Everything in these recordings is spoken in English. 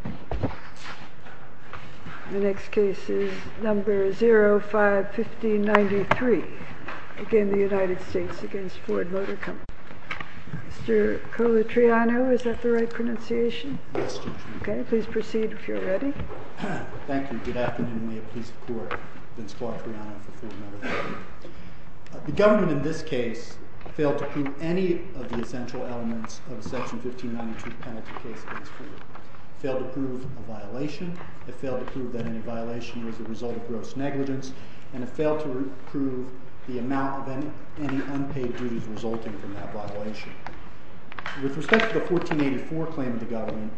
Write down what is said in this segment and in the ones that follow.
The government in this case failed to prove any of the essential elements of a § 1592 penalty case against Ford. It failed to prove a violation, it failed to prove that any violation was the result of gross negligence, and it failed to prove the amount of any unpaid duties resulting from that violation. With respect to the § 1484 claim of the government,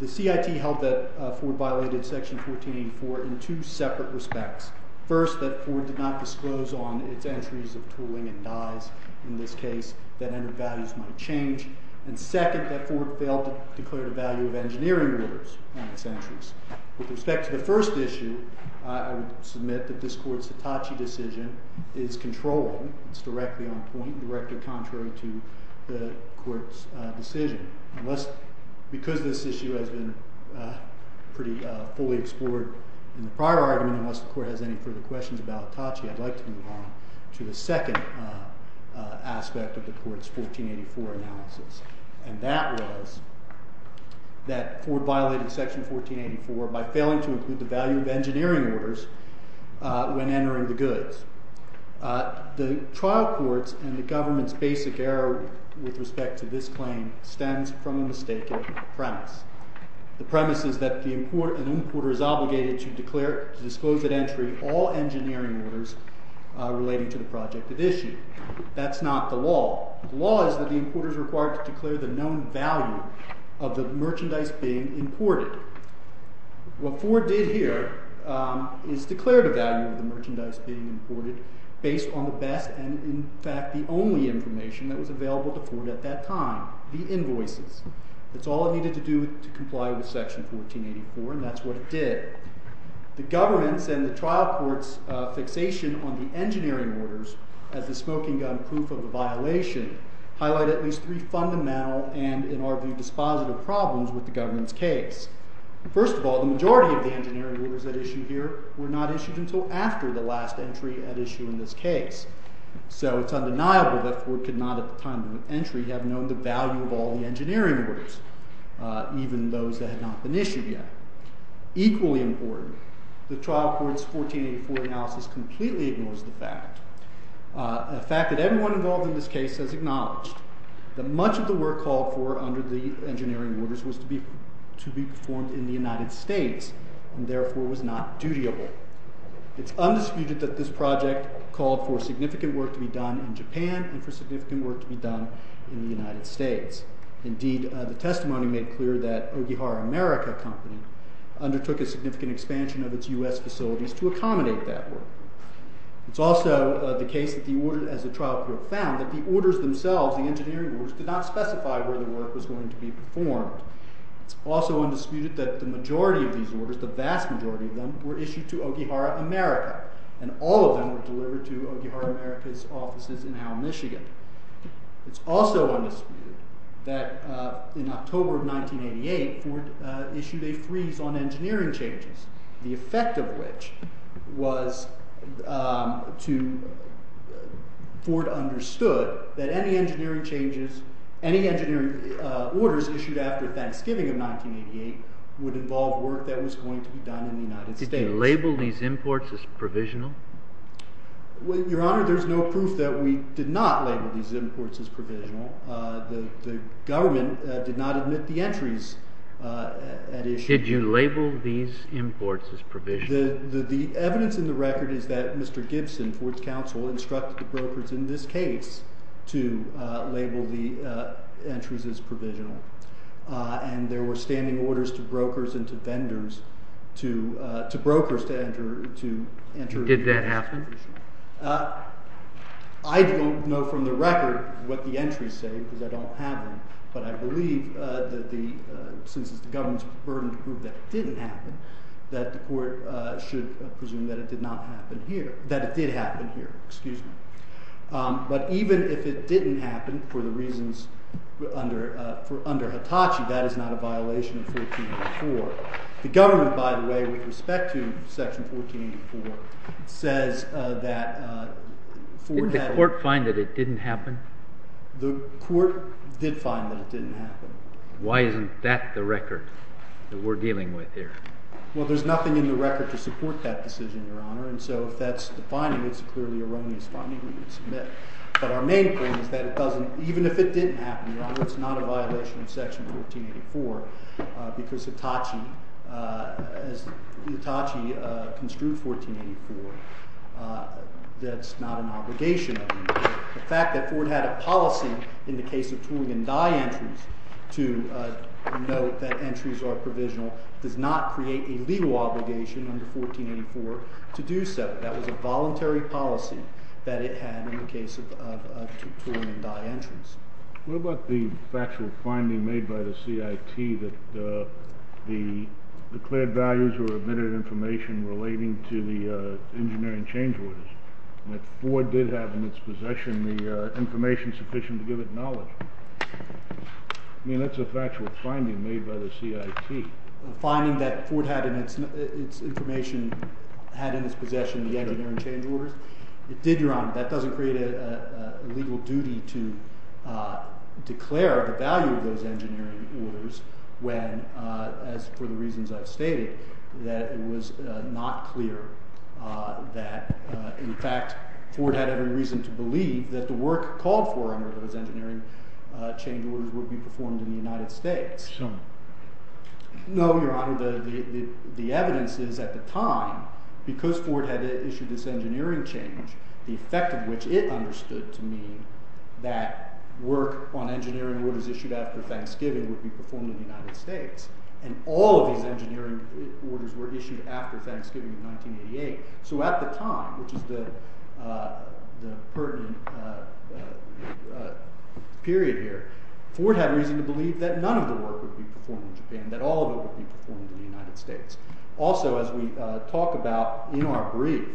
the CIT held that Ford violated § 1484 in two separate respects. First, that Ford did not disclose on its entries of tooling and dies in this case that entered values might change. And second, that Ford failed to declare the value of engineering orders on its entries. With respect to the first issue, I would submit that this court's Hitachi decision is controlling. It's directly on point and directed contrary to the court's decision. Because this issue has been pretty fully explored in the prior argument, unless the court has any further questions about Hitachi, I'd like to move on to the second aspect of the court's § 1484 analysis. And that was that Ford violated § 1484 by failing to include the value of engineering orders when entering the goods. The trial court's and the government's basic error with respect to this claim stems from a mistaken premise. The premise is that an importer is obligated to disclose at entry all engineering orders relating to the project at issue. That's not the law. The law is that the importer is required to declare the known value of the merchandise being imported. What Ford did here is declare the value of the merchandise being imported based on the best and, in fact, the only information that was available to Ford at that time, the invoices. That's all it needed to do to comply with § 1484, and that's what it did. The government's and the trial court's fixation on the engineering orders as the smoking gun proof of the violation highlight at least three fundamental and, in our view, dispositive problems with the government's case. First of all, the majority of the engineering orders at issue here were not issued until after the last entry at issue in this case. So it's undeniable that Ford could not, at the time of entry, have known the value of all the engineering orders, even those that had not been issued yet. Equally important, the trial court's § 1484 analysis completely ignores the fact. The fact that everyone involved in this case has acknowledged that much of the work called for under the engineering orders was to be performed in the United States and, therefore, was not dutiable. It's undisputed that this project called for significant work to be done in Japan and for significant work to be done in the United States. Indeed, the testimony made clear that Ogihara America Company undertook a significant expansion of its U.S. facilities to accommodate that work. It's also the case that the order, as the trial court found, that the orders themselves, the engineering orders, did not specify where the work was going to be performed. It's also undisputed that the majority of these orders, the vast majority of them, were issued to Ogihara America, and all of them were delivered to Ogihara America's offices in Howe, Michigan. It's also undisputed that in October of 1988, Ford issued a freeze on engineering changes, the effect of which was that Ford understood that any engineering orders issued after Thanksgiving of 1988 would involve work that was going to be done in the United States. Did they label these imports as provisional? Your Honor, there's no proof that we did not label these imports as provisional. The government did not admit the entries at issue. Did you label these imports as provisional? The evidence in the record is that Mr. Gibson, Ford's counsel, instructed the brokers in this case to label the entries as provisional. And there were standing orders to brokers and to vendors, to brokers, to enter... Did that happen? I don't know from the record what the entries say, because I don't have them, but I believe that the, since it's the government's burden to prove that it didn't happen, that the court should presume that it did not happen here, that it did happen here. But even if it didn't happen, for the reasons under Hitachi, that is not a violation of Section 1484. The government, by the way, with respect to Section 1484, says that Ford had... Did the court find that it didn't happen? The court did find that it didn't happen. Why isn't that the record that we're dealing with here? Well, there's nothing in the record to support that decision, Your Honor, and so if that's the finding, it's clearly an erroneous finding that we would submit. But our main point is that it doesn't, even if it didn't happen, Your Honor, it's not a violation of Section 1484, because Hitachi, as Hitachi construed 1484, that's not an obligation of the court. The fact that Ford had a policy in the case of tooling and die entries to note that entries are provisional does not create a legal obligation under 1484 to do so. That was a voluntary policy that it had in the case of tooling and die entries. What about the factual finding made by the CIT that the declared values were admitted information relating to the engineering change orders? That Ford did have in its possession the information sufficient to give it knowledge. I mean, that's a factual finding made by the CIT. The finding that Ford had in its information had in its possession the engineering change orders? It did, Your Honor. That doesn't create a legal duty to declare the value of those engineering orders when, as for the reasons I've stated, that it was not clear that, in fact, Ford had every reason to believe that the work called for under those engineering change orders would be performed in the United States. No, Your Honor. The evidence is, at the time, because Ford had issued this engineering change, the effect of which it understood to mean that work on engineering orders issued after Thanksgiving would be performed in the United States. And all of these engineering orders were issued after Thanksgiving in 1988. So at the time, which is the pertinent period here, Ford had reason to believe that none of the work would be performed in Japan, that all of it would be performed in the United States. Also, as we talk about in our brief,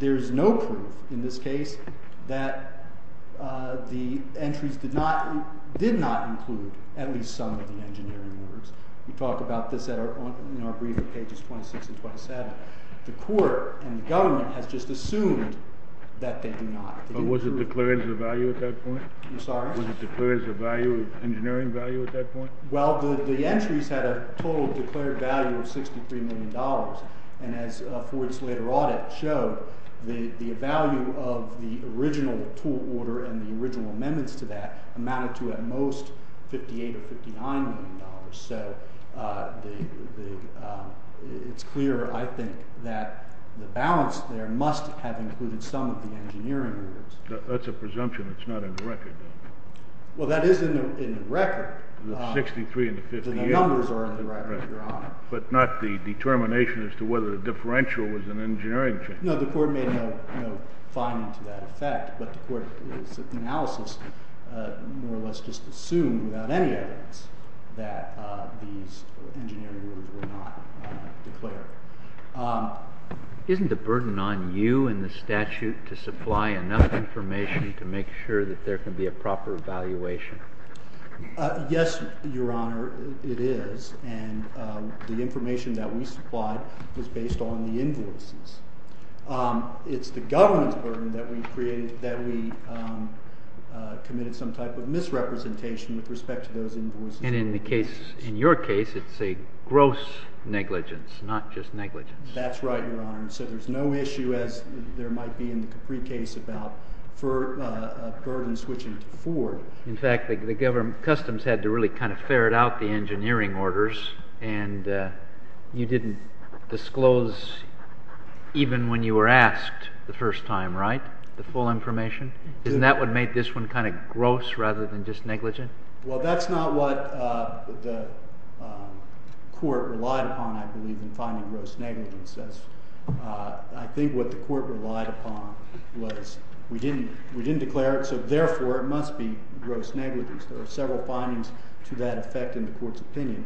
there's no proof in this case that the entries did not include at least some of the engineering orders. We talk about this in our brief on pages 26 and 27. The court and the government has just assumed that they do not. Was it declared as a value at that point? I'm sorry? Was it declared as an engineering value at that point? Well, the entries had a total declared value of $63 million. And as Ford's later audit showed, the value of the original tool order and the original amendments to that amounted to at most $58 or $59 million. So it's clear, I think, that the balance there must have included some of the engineering orders. That's a presumption. It's not in the record. Well, that is in the record. The 63 and the 58. The numbers are in the record, Your Honor. But not the determination as to whether the differential was an engineering change. No, the court made no finding to that effect. But the court's analysis more or less just assumed without any evidence that these engineering orders were not declared. Isn't the burden on you and the statute to supply enough information to make sure that there can be a proper evaluation? Yes, Your Honor, it is. And the information that we supplied was based on the invoices. It's the government's burden that we committed some type of misrepresentation with respect to those invoices. And in your case, it's a gross negligence, not just negligence. That's right, Your Honor. So there's no issue, as there might be in the Capri case, about a burden switching to Ford. In fact, the customs had to really kind of ferret out the engineering orders. And you didn't disclose even when you were asked the first time, right, the full information? Isn't that what made this one kind of gross rather than just negligent? Well, that's not what the court relied upon, I believe, in finding gross negligence. I think what the court relied upon was we didn't declare it, so therefore it must be gross negligence. There were several findings to that effect in the court's opinion.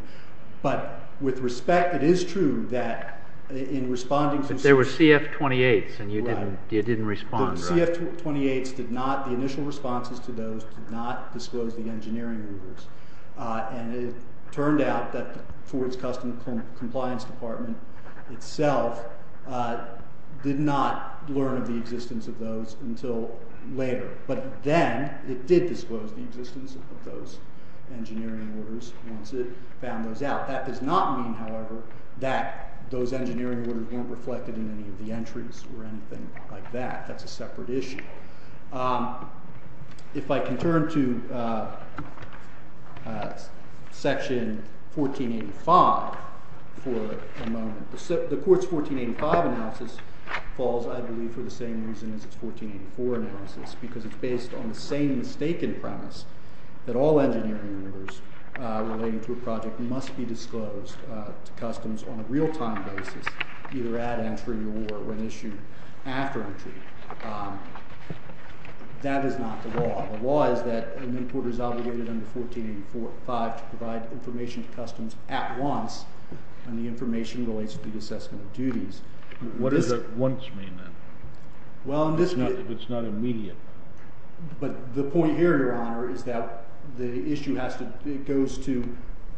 But with respect, it is true that in responding to— But there were CF-28s, and you didn't respond, right? The CF-28s did not—the initial responses to those did not disclose the engineering orders. And it turned out that Ford's Customs Compliance Department itself did not learn of the existence of those until later. But then it did disclose the existence of those engineering orders once it found those out. That does not mean, however, that those engineering orders weren't reflected in any of the entries or anything like that. That's a separate issue. If I can turn to Section 1485 for a moment. The court's 1485 analysis falls, I believe, for the same reason as its 1484 analysis, because it's based on the same mistaken premise that all engineering orders relating to a project must be disclosed to customs on a real-time basis, either at entry or when issued after entry. That is not the law. The law is that an importer is obligated under 1485 to provide information to customs at once when the information relates to the assessment of duties. What does at once mean, then? Well, in this case— If it's not immediate. But the point here, Your Honor, is that the issue has to—it goes to,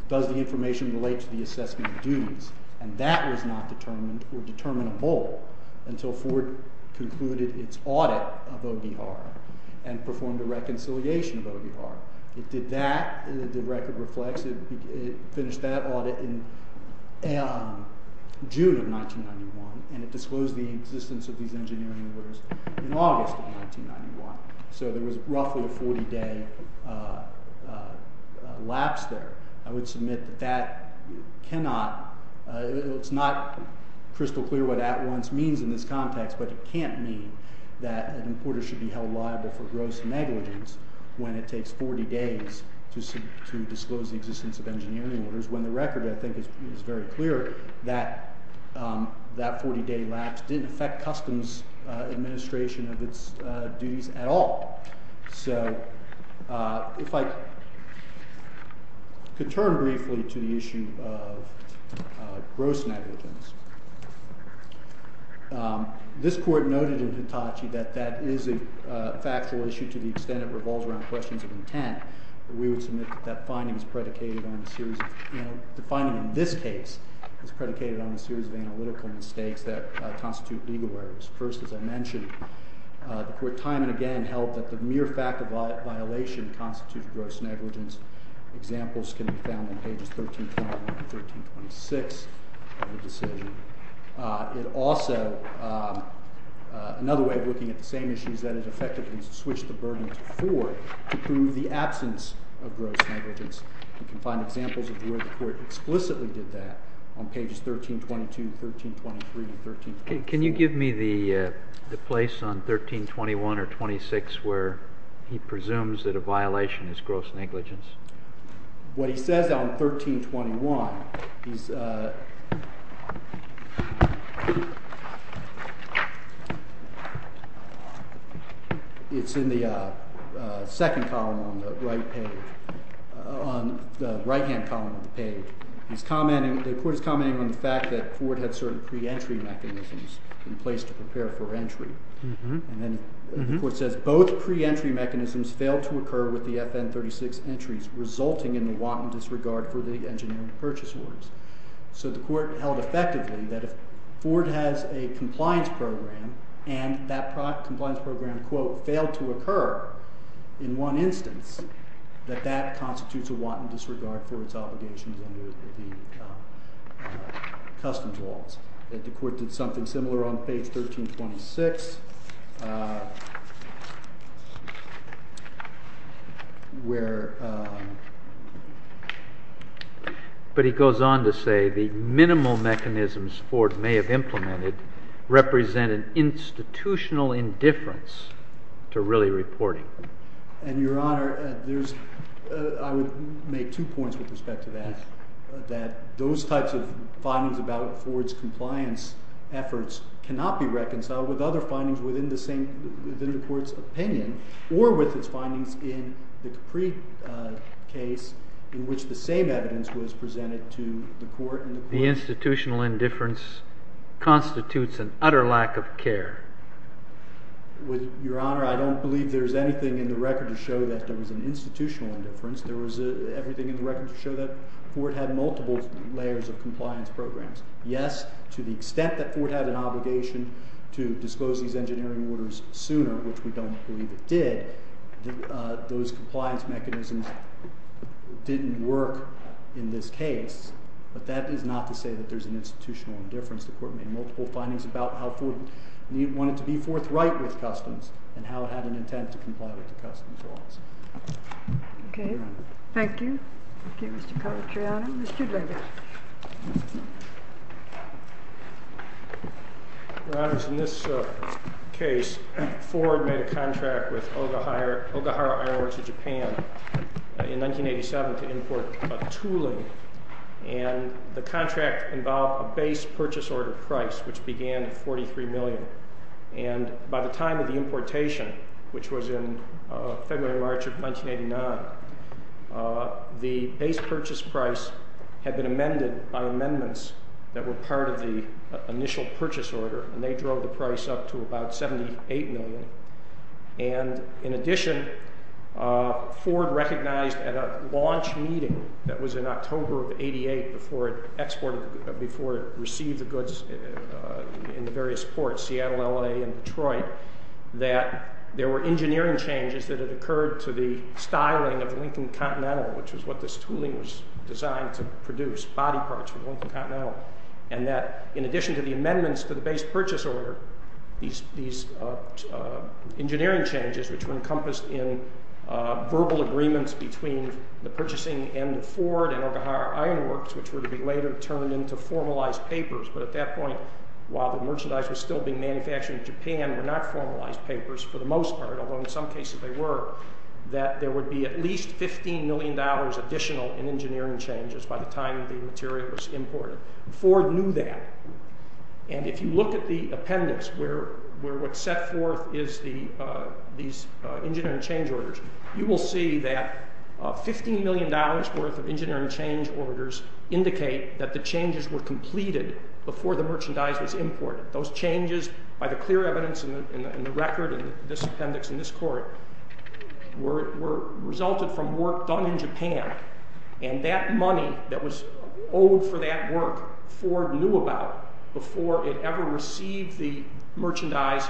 does the information relate to the assessment of duties? And that was not determined or determinable until Ford concluded its audit of OVR and performed a reconciliation of OVR. It did that. The record reflects it finished that audit in June of 1991, and it disclosed the existence of these engineering orders in August of 1991. So there was roughly a 40-day lapse there. I would submit that that cannot—it's not crystal clear what at once means in this context, but it can't mean that an importer should be held liable for gross negligence when it takes 40 days to disclose the existence of engineering orders, when the record, I think, is very clear that that 40-day lapse didn't affect customs administration of its duties at all. So if I could turn briefly to the issue of gross negligence. This Court noted in Hitachi that that is a factual issue to the extent it revolves around questions of intent. We would submit that that finding is predicated on a series of—the finding in this case is predicated on a series of analytical mistakes that constitute legal errors. First, as I mentioned, the Court time and again held that the mere fact of violation constitutes gross negligence. Examples can be found on pages 1321 and 1326 of the decision. It also—another way of looking at the same issue is that it effectively switched the burden to four to prove the absence of gross negligence. You can find examples of where the Court explicitly did that on pages 1322, 1323, and 1324. Can you give me the place on 1321 or 1326 where he presumes that a violation is gross negligence? What he says on 1321 is—it's in the second column on the right page, on the right-hand column of the page. He's commenting—the Court is commenting on the fact that Ford had certain pre-entry mechanisms in place to prepare for entry. And then the Court says, both pre-entry mechanisms failed to occur with the FN 36 entries, resulting in the wanton disregard for the engineering purchase orders. So the Court held effectively that if Ford has a compliance program and that compliance program, quote, failed to occur in one instance, that that constitutes a wanton disregard for its obligations under the customs laws. The Court did something similar on page 1326, where— But he goes on to say the minimal mechanisms Ford may have implemented represent an institutional indifference to really reporting. And, Your Honor, there's—I would make two points with respect to that. That those types of findings about Ford's compliance efforts cannot be reconciled with other findings within the same—within the Court's opinion, or with its findings in the Capri case, in which the same evidence was presented to the Court. The institutional indifference constitutes an utter lack of care. With—Your Honor, I don't believe there's anything in the record to show that there was an institutional indifference. There was everything in the record to show that Ford had multiple layers of compliance programs. Yes, to the extent that Ford had an obligation to disclose these engineering orders sooner, which we don't believe it did, those compliance mechanisms didn't work in this case. But that is not to say that there's an institutional indifference. The Court made multiple findings about how Ford wanted to be forthright with Customs and how it had an intent to comply with the Customs laws. Okay, thank you. Thank you, Mr. Calvatriano. Mr. Dredge. Your Honors, in this case, Ford made a contract with Ogahara Iron Works of Japan in 1987 to import tooling. And the contract involved a base purchase order price, which began at $43 million. And by the time of the importation, which was in February or March of 1989, the base purchase price had been amended by amendments that were part of the initial purchase order, and they drove the price up to about $78 million. And in addition, Ford recognized at a launch meeting that was in October of 1988 before it exported, before it received the goods in the various ports, Seattle, L.A., and Detroit, that there were engineering changes that had occurred to the styling of the Lincoln Continental, which was what this tooling was designed to produce, body parts for the Lincoln Continental. And that in addition to the amendments to the base purchase order, these engineering changes, which were encompassed in verbal agreements between the purchasing end of Ford and Ogahara Iron Works, which were to be later turned into formalized papers, but at that point, while the merchandise was still being manufactured in Japan, were not formalized papers for the most part, although in some cases they were, that there would be at least $15 million additional in engineering changes by the time the material was imported. Ford knew that, and if you look at the appendix where what's set forth is these engineering change orders, you will see that $15 million worth of engineering change orders indicate that the changes were completed before the merchandise was imported. Those changes, by the clear evidence in the record in this appendix in this court, resulted from work done in Japan, and that money that was owed for that work, Ford knew about before it ever received the merchandise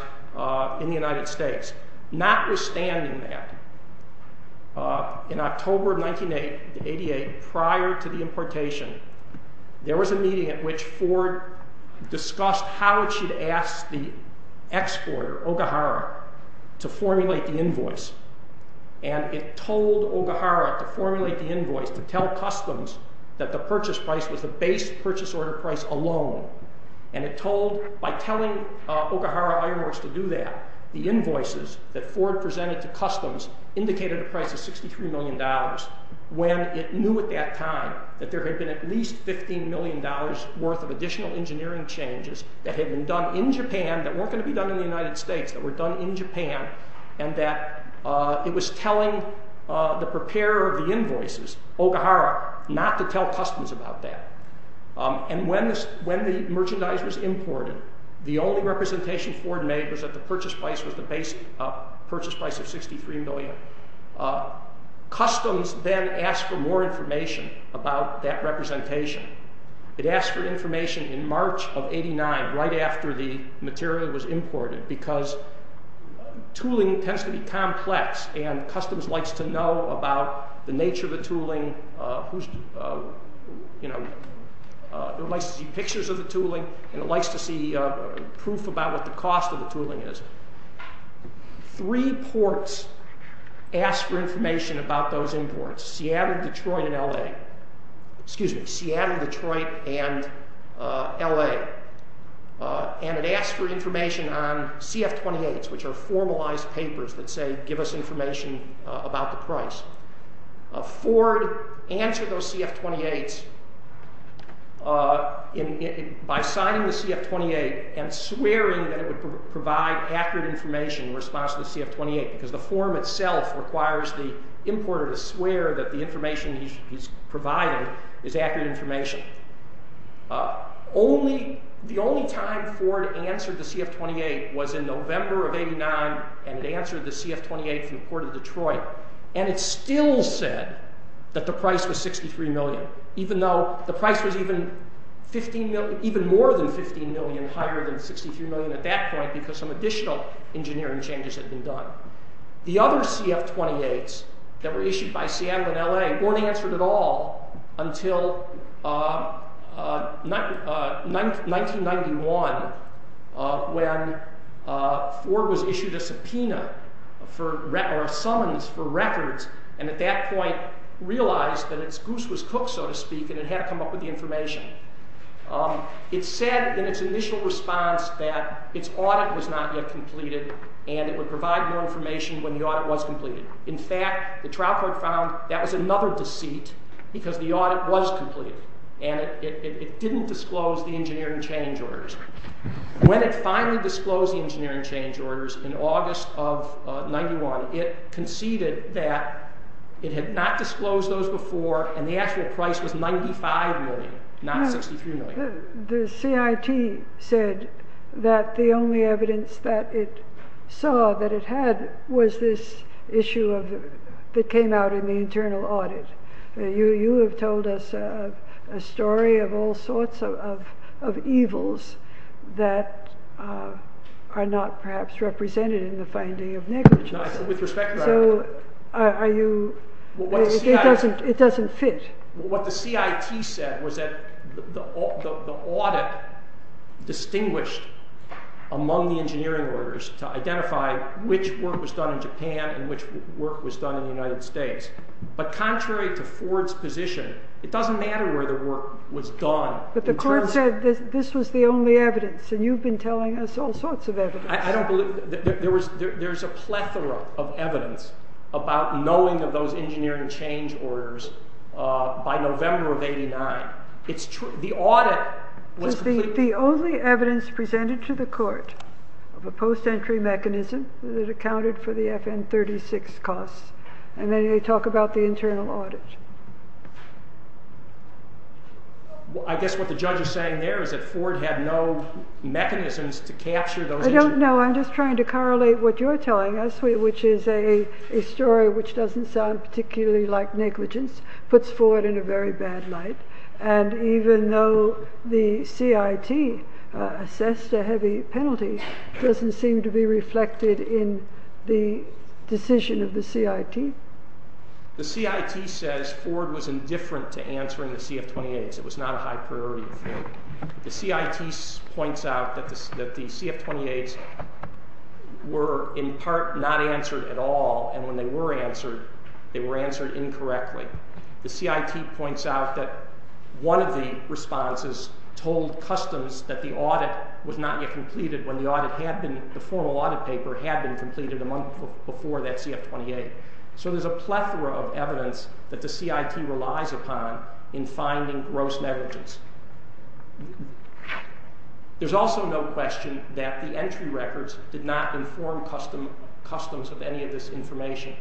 in the United States. Notwithstanding that, in October of 1988, prior to the importation, there was a meeting at which Ford discussed how it should ask the exporter, Ogahara, to formulate the invoice, and it told Ogahara to formulate the invoice, to tell Customs that the purchase price was the base purchase order price alone, and it told, by telling Ogahara Iron Works to do that, the invoices that Ford presented to Customs indicated a price of $63 million, when it knew at that time that there had been at least $15 million worth of additional engineering changes that had been done in Japan that weren't going to be done in the United States, that were done in Japan, and that it was telling the preparer of the invoices, Ogahara, not to tell Customs about that. And when the merchandise was imported, the only representation Ford made was that the purchase price was the base purchase price of $63 million. Customs then asked for more information about that representation. It asked for information in March of 89, right after the material was imported, because tooling tends to be complex, and Customs likes to know about the nature of the tooling. It likes to see pictures of the tooling, and it likes to see proof about what the cost of the tooling is. Three ports asked for information about those imports, Seattle, Detroit, and L.A. Excuse me, Seattle, Detroit, and L.A. And it asked for information on CF-28s, which are formalized papers that say, give us information about the price. Ford answered those CF-28s by signing the CF-28 and swearing that it would provide accurate information in response to the CF-28, because the form itself requires the importer to swear that the information he's providing is accurate information. The only time Ford answered the CF-28 was in November of 89, and it answered the CF-28 from the Port of Detroit. And it still said that the price was $63 million, even though the price was even more than $15 million higher than $63 million at that point, because some additional engineering changes had been done. The other CF-28s that were issued by Seattle and L.A. weren't answered at all until 1991, when Ford was issued a subpoena, or a summons for records, and at that point realized that its goose was cooked, so to speak, and it had to come up with the information. It said in its initial response that its audit was not yet completed, and it would provide more information when the audit was completed. In fact, the trial court found that was another deceit, because the audit was completed, and it didn't disclose the engineering change orders. When it finally disclosed the engineering change orders in August of 91, it conceded that it had not disclosed those before, and the actual price was $95 million, not $63 million. The CIT said that the only evidence that it saw that it had was this issue that came out in the internal audit. You have told us a story of all sorts of evils that are not perhaps represented in the finding of negligence. With respect, Your Honor. It doesn't fit. What the CIT said was that the audit distinguished among the engineering orders to identify which work was done in Japan and which work was done in the United States, but contrary to Ford's position, it doesn't matter where the work was done. But the court said that this was the only evidence, and you've been telling us all sorts of evidence. I don't believe. There's a plethora of evidence about knowing of those engineering change orders by November of 89. It's true. The audit was completed. The only evidence presented to the court of a post-entry mechanism that accounted for the FN-36 costs, and then they talk about the internal audit. I guess what the judge is saying there is that Ford had no mechanisms to capture those. I don't know. I'm just trying to correlate what you're telling us, which is a story which doesn't sound particularly like negligence, puts Ford in a very bad light, and even though the CIT assessed a heavy penalty, it doesn't seem to be reflected in the decision of the CIT. The CIT says Ford was indifferent to answering the CF-28s. It was not a high-priority affair. The CIT points out that the CF-28s were in part not answered at all, and when they were answered, they were answered incorrectly. The CIT points out that one of the responses told customs that the audit was not yet completed when the formal audit paper had been completed a month before that CF-28. So there's a plethora of evidence that the CIT relies upon in finding gross negligence. There's also no question that the entry records did not inform customs of any of this information.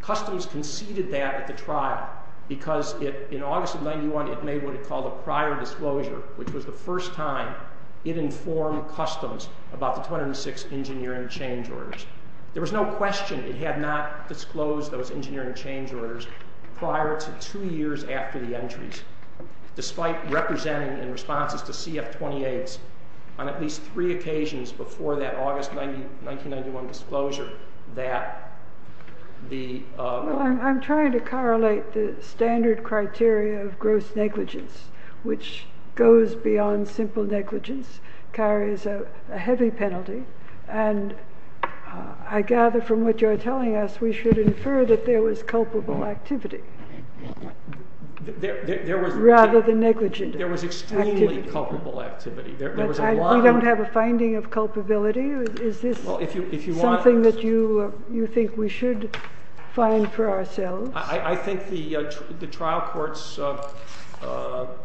Customs conceded that at the trial because in August of 1991, it made what it called a prior disclosure, which was the first time it informed customs about the 206 engineering change orders. There was no question it had not disclosed those engineering change orders prior to two years after the entries, despite representing in responses to CF-28s on at least three occasions before that August 1991 disclosure that the- Well, I'm trying to correlate the standard criteria of gross negligence, which goes beyond simple negligence, carries a heavy penalty, and I gather from what you're telling us, we should infer that there was culpable activity rather than negligent activity. There was extremely culpable activity. We don't have a finding of culpability? Is this something that you think we should find for ourselves? I think the trial court's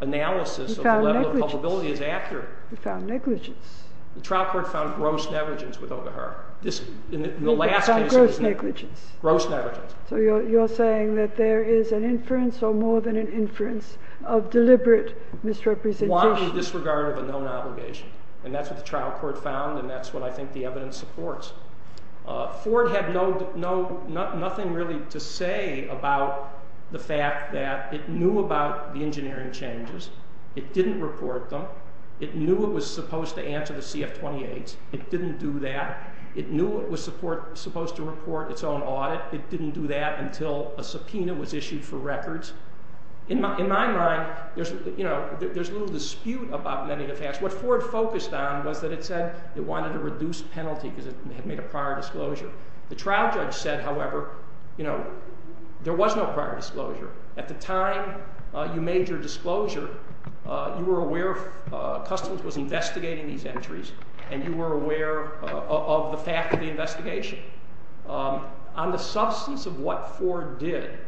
analysis of the level of culpability is accurate. We found negligence. The trial court found gross negligence with Ogarher. We found gross negligence. Gross negligence. So you're saying that there is an inference or more than an inference of deliberate misrepresentation. Wanted disregard of a known obligation, and that's what the trial court found and that's what I think the evidence supports. Ford had nothing really to say about the fact that it knew about the engineering changes. It didn't report them. It knew it was supposed to answer the CF-28. It didn't do that. It knew it was supposed to report its own audit. It didn't do that until a subpoena was issued for records. In my mind, there's a little dispute about many of the facts. What Ford focused on was that it said it wanted to reduce penalty because it had made a prior disclosure. The trial judge said, however, there was no prior disclosure. At the time you made your disclosure, you were aware Customs was investigating these entries and you were aware of the fact of the investigation. On the substance of what Ford did,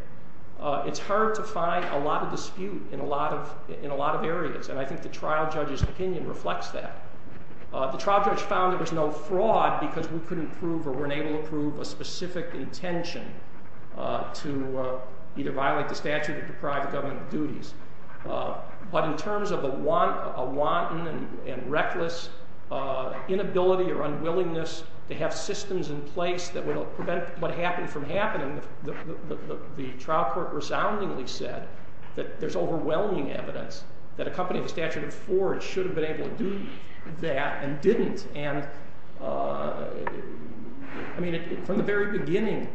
it's hard to find a lot of dispute in a lot of areas, and I think the trial judge's opinion reflects that. The trial judge found there was no fraud because we couldn't prove or weren't able to prove a specific intention to either violate the statute or deprive the government of duties. But in terms of a wanton and reckless inability or unwillingness to have systems in place that would prevent what happened from happening, the trial court resoundingly said that there's overwhelming evidence that a company with a statute of Ford should have been able to do that and didn't. From the very beginning,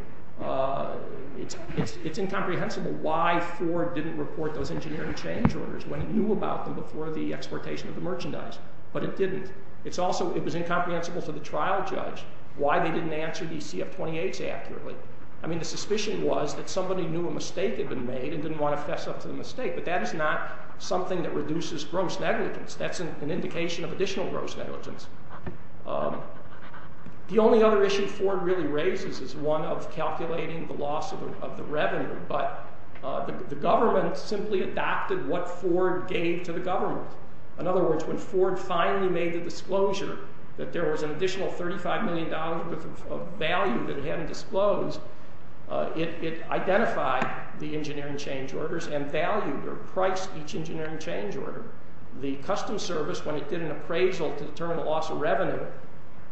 it's incomprehensible why Ford didn't report those engineering change orders when he knew about them before the exportation of the merchandise, but it didn't. It was incomprehensible to the trial judge why they didn't answer these CF-28s accurately. I mean, the suspicion was that somebody knew a mistake had been made and didn't want to fess up to the mistake, but that is not something that reduces gross negligence. That's an indication of additional gross negligence. The only other issue Ford really raises is one of calculating the loss of the revenue, but the government simply adopted what Ford gave to the government. In other words, when Ford finally made the disclosure that there was an additional $35 million worth of value that it hadn't disclosed, it identified the engineering change orders and valued or priced each engineering change order. The Customs Service, when it did an appraisal to determine the loss of revenue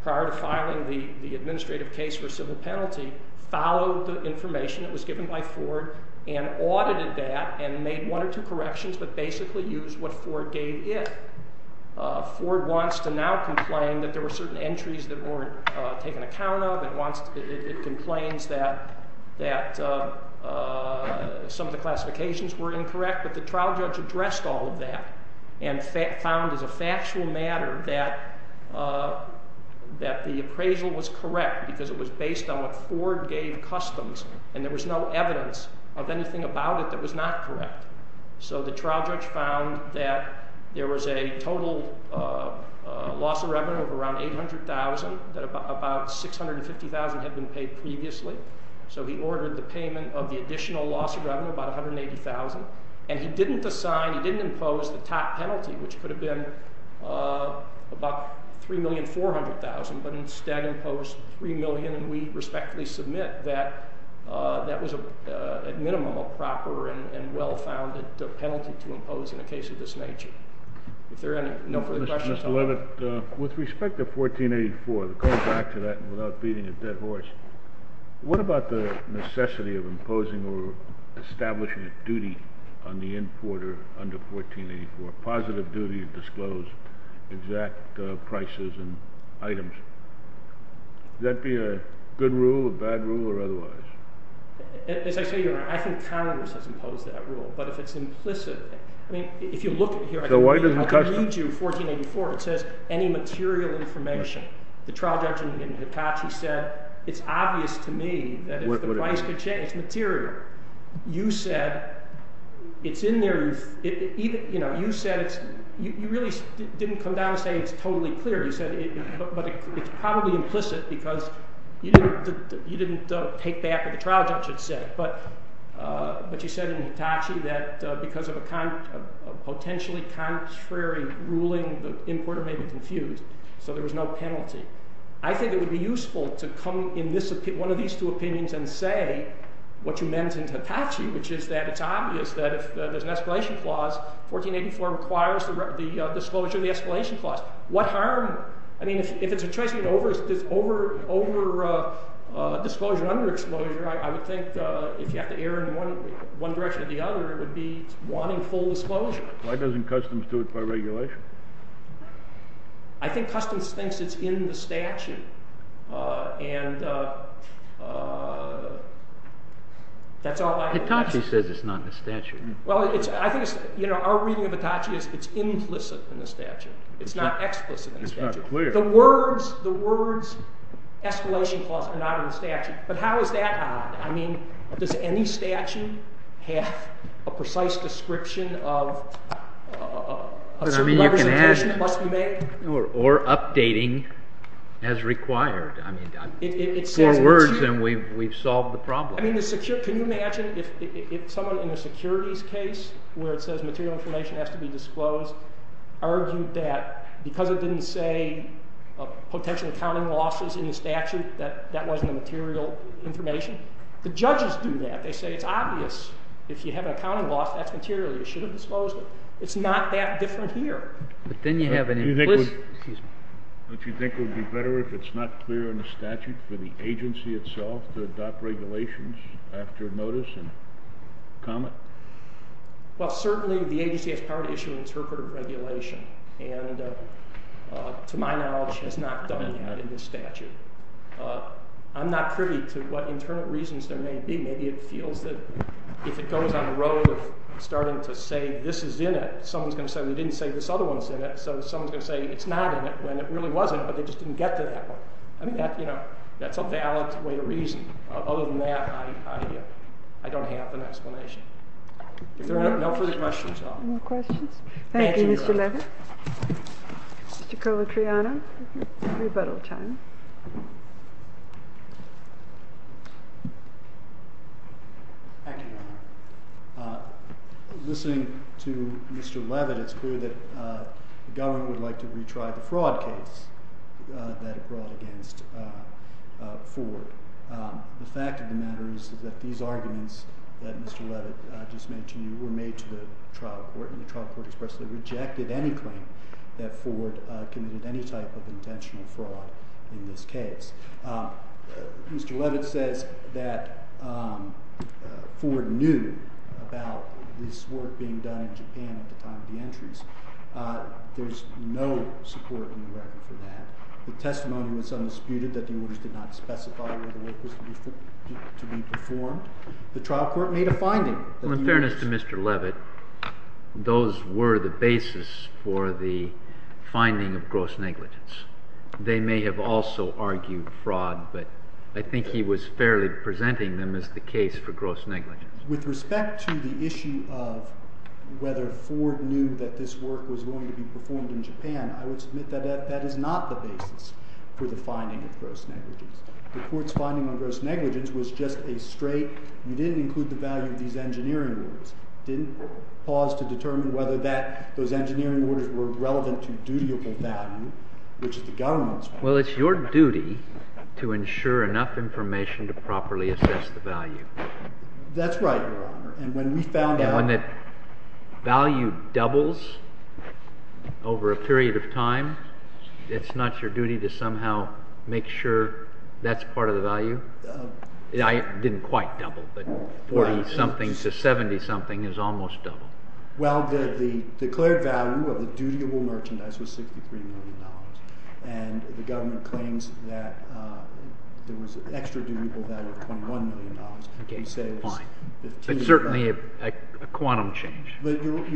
prior to filing the administrative case for civil penalty, followed the information that was given by Ford and audited that and made one or two corrections but basically used what Ford gave it. Ford wants to now complain that there were certain entries that weren't taken account of. It complains that some of the classifications were incorrect, but the trial judge addressed all of that and found as a factual matter that the appraisal was correct because it was based on what Ford gave Customs and there was no evidence of anything about it that was not correct. So the trial judge found that there was a total loss of revenue of around $800,000, that about $650,000 had been paid previously. So he ordered the payment of the additional loss of revenue, about $180,000, and he didn't impose the top penalty, which could have been about $3,400,000, but instead imposed $3 million, and we respectfully submit that that was, at minimum, a proper and well-founded penalty to impose in a case of this nature. If there are no further questions, I'll let it go. Mr. Leavitt, with respect to 1484, going back to that and without beating a dead horse, what about the necessity of imposing or establishing a duty on the importer under 1484, a positive duty to disclose exact prices and items? Would that be a good rule, a bad rule, or otherwise? As I say, Your Honor, I think Congress has imposed that rule, but if it's implicit, I mean, if you look here, I can read you 1484. It says, any material information. The trial judge in Hitachi said, it's obvious to me that if the price could change material, you said it's in there. You really didn't come down and say it's totally clear. You said it's probably implicit because you didn't take back what the trial judge had said, but you said in Hitachi that because of a potentially contrary ruling, the importer may be confused, so there was no penalty. I think it would be useful to come in one of these two opinions and say what you meant in Hitachi, which is that it's obvious that if there's an escalation clause, 1484 requires the disclosure of the escalation clause. What harm? I mean, if it's a choice between over-disclosure and under-disclosure, I would think if you have to err in one direction or the other, it would be wanting full disclosure. Why doesn't Customs do it by regulation? I think Customs thinks it's in the statute, and that's all I have. Hitachi says it's not in the statute. Well, I think our reading of Hitachi is it's implicit in the statute. It's not explicit in the statute. It's not clear. The words escalation clause are not in the statute, but how is that odd? I mean, does any statute have a precise description of certain levels of attention that must be made? Or updating as required. I mean, four words and we've solved the problem. Can you imagine if someone in a securities case where it says material information has to be disclosed argued that because it didn't say potential accounting losses in the statute, that that wasn't the material information? The judges do that. They say it's obvious. If you have an accounting loss, that's material. You should have disclosed it. It's not that different here. But then you have an implicit. Excuse me. Don't you think it would be better if it's not clear in the statute for the agency itself to adopt regulations after notice and comment? Well, certainly the agency has power to issue interpretive regulation, and to my knowledge has not done that in this statute. I'm not privy to what internal reasons there may be. Maybe it feels that if it goes on the road of starting to say this is in it, someone's going to say we didn't say this other one's in it, so someone's going to say it's not in it when it really wasn't, but they just didn't get to that one. I mean, that's a valid way to reason. Other than that, I don't have an explanation. If there are no further questions. No questions? Thank you, Mr. Levin. Thank you, Your Honor. Listening to Mr. Levin, it's clear that the government would like to retry the fraud case that it brought against Ford. The fact of the matter is that these arguments that Mr. Levin just mentioned were made to the trial court, and the trial court expressly rejected any claim that Ford committed any type of intentional fraud in this case. Mr. Levin says that Ford knew about this work being done in Japan at the time of the entries. There's no support in the record for that. The testimony was undisputed that the orders did not specify whether the work was to be performed. The trial court made a finding. Well, in fairness to Mr. Levin, those were the basis for the finding of gross negligence. They may have also argued fraud, but I think he was fairly presenting them as the case for gross negligence. With respect to the issue of whether Ford knew that this work was going to be performed in Japan, I would submit that that is not the basis for the finding of gross negligence. The court's finding on gross negligence was just a straight you didn't include the value of these engineering orders, didn't pause to determine whether those engineering orders were relevant to dutiable value, which is the government's point of view. Well, it's your duty to ensure enough information to properly assess the value. That's right, Your Honor. When the value doubles over a period of time, it's not your duty to somehow make sure that's part of the value? I didn't quite double, but 40-something to 70-something is almost double. Well, the declared value of the dutiable merchandise was $63 million, and the government claims that there was an extra dutiable value of $21 million. Again, fine. But certainly a quantum change. That's right,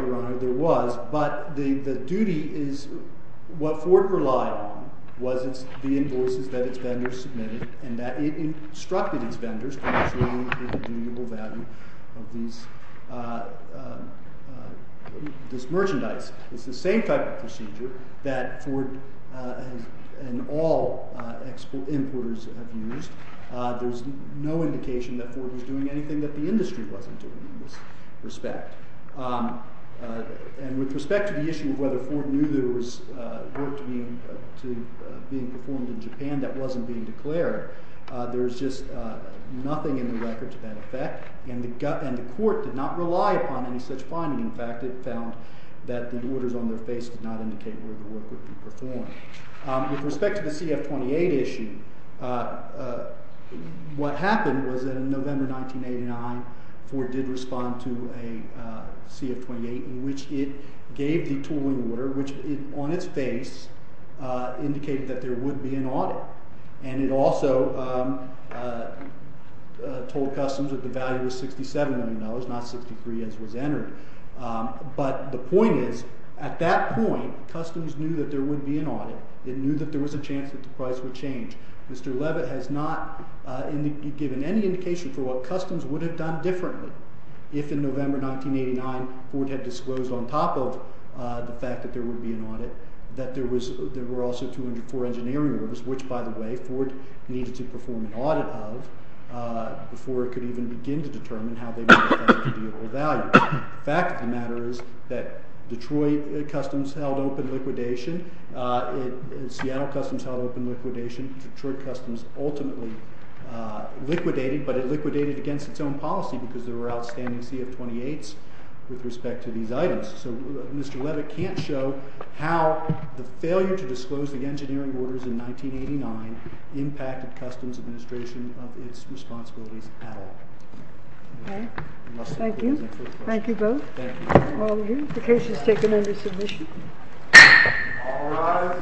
Your Honor. There was, but the duty is what Ford relied on was the invoices that its vendors submitted and that it instructed its vendors to ensure the dutiable value of this merchandise. It's the same type of procedure that Ford and all exporters have used. There's no indication that Ford was doing anything that the industry wasn't doing in this respect. And with respect to the issue of whether Ford knew there was work being performed in Japan that wasn't being declared, there's just nothing in the records of that effect, and the court did not rely upon any such finding. In fact, it found that the orders on their face did not indicate where the work would be performed. With respect to the CF-28 issue, what happened was that in November 1989, Ford did respond to a CF-28 in which it gave the tooling order, which on its face indicated that there would be an audit, and it also told Customs that the value was $6,700, not $63,000 as was entered. But the point is, at that point, Customs knew that there would be an audit. It knew that there was a chance that the price would change. Mr. Levitt has not given any indication for what Customs would have done differently if in November 1989 Ford had disclosed on top of the fact that there would be an audit that there were also 204 engineering orders, which, by the way, Ford needed to perform an audit of before it could even begin to determine how they would affect the vehicle value. The fact of the matter is that Detroit Customs held open liquidation. Seattle Customs held open liquidation. Detroit Customs ultimately liquidated, but it liquidated against its own policy because there were outstanding CF-28s with respect to these items. So Mr. Levitt can't show how the failure to disclose the engineering orders in 1989 impacted Customs administration of its responsibilities at all. Okay. Thank you. Thank you both. The case is taken under submission. All rise.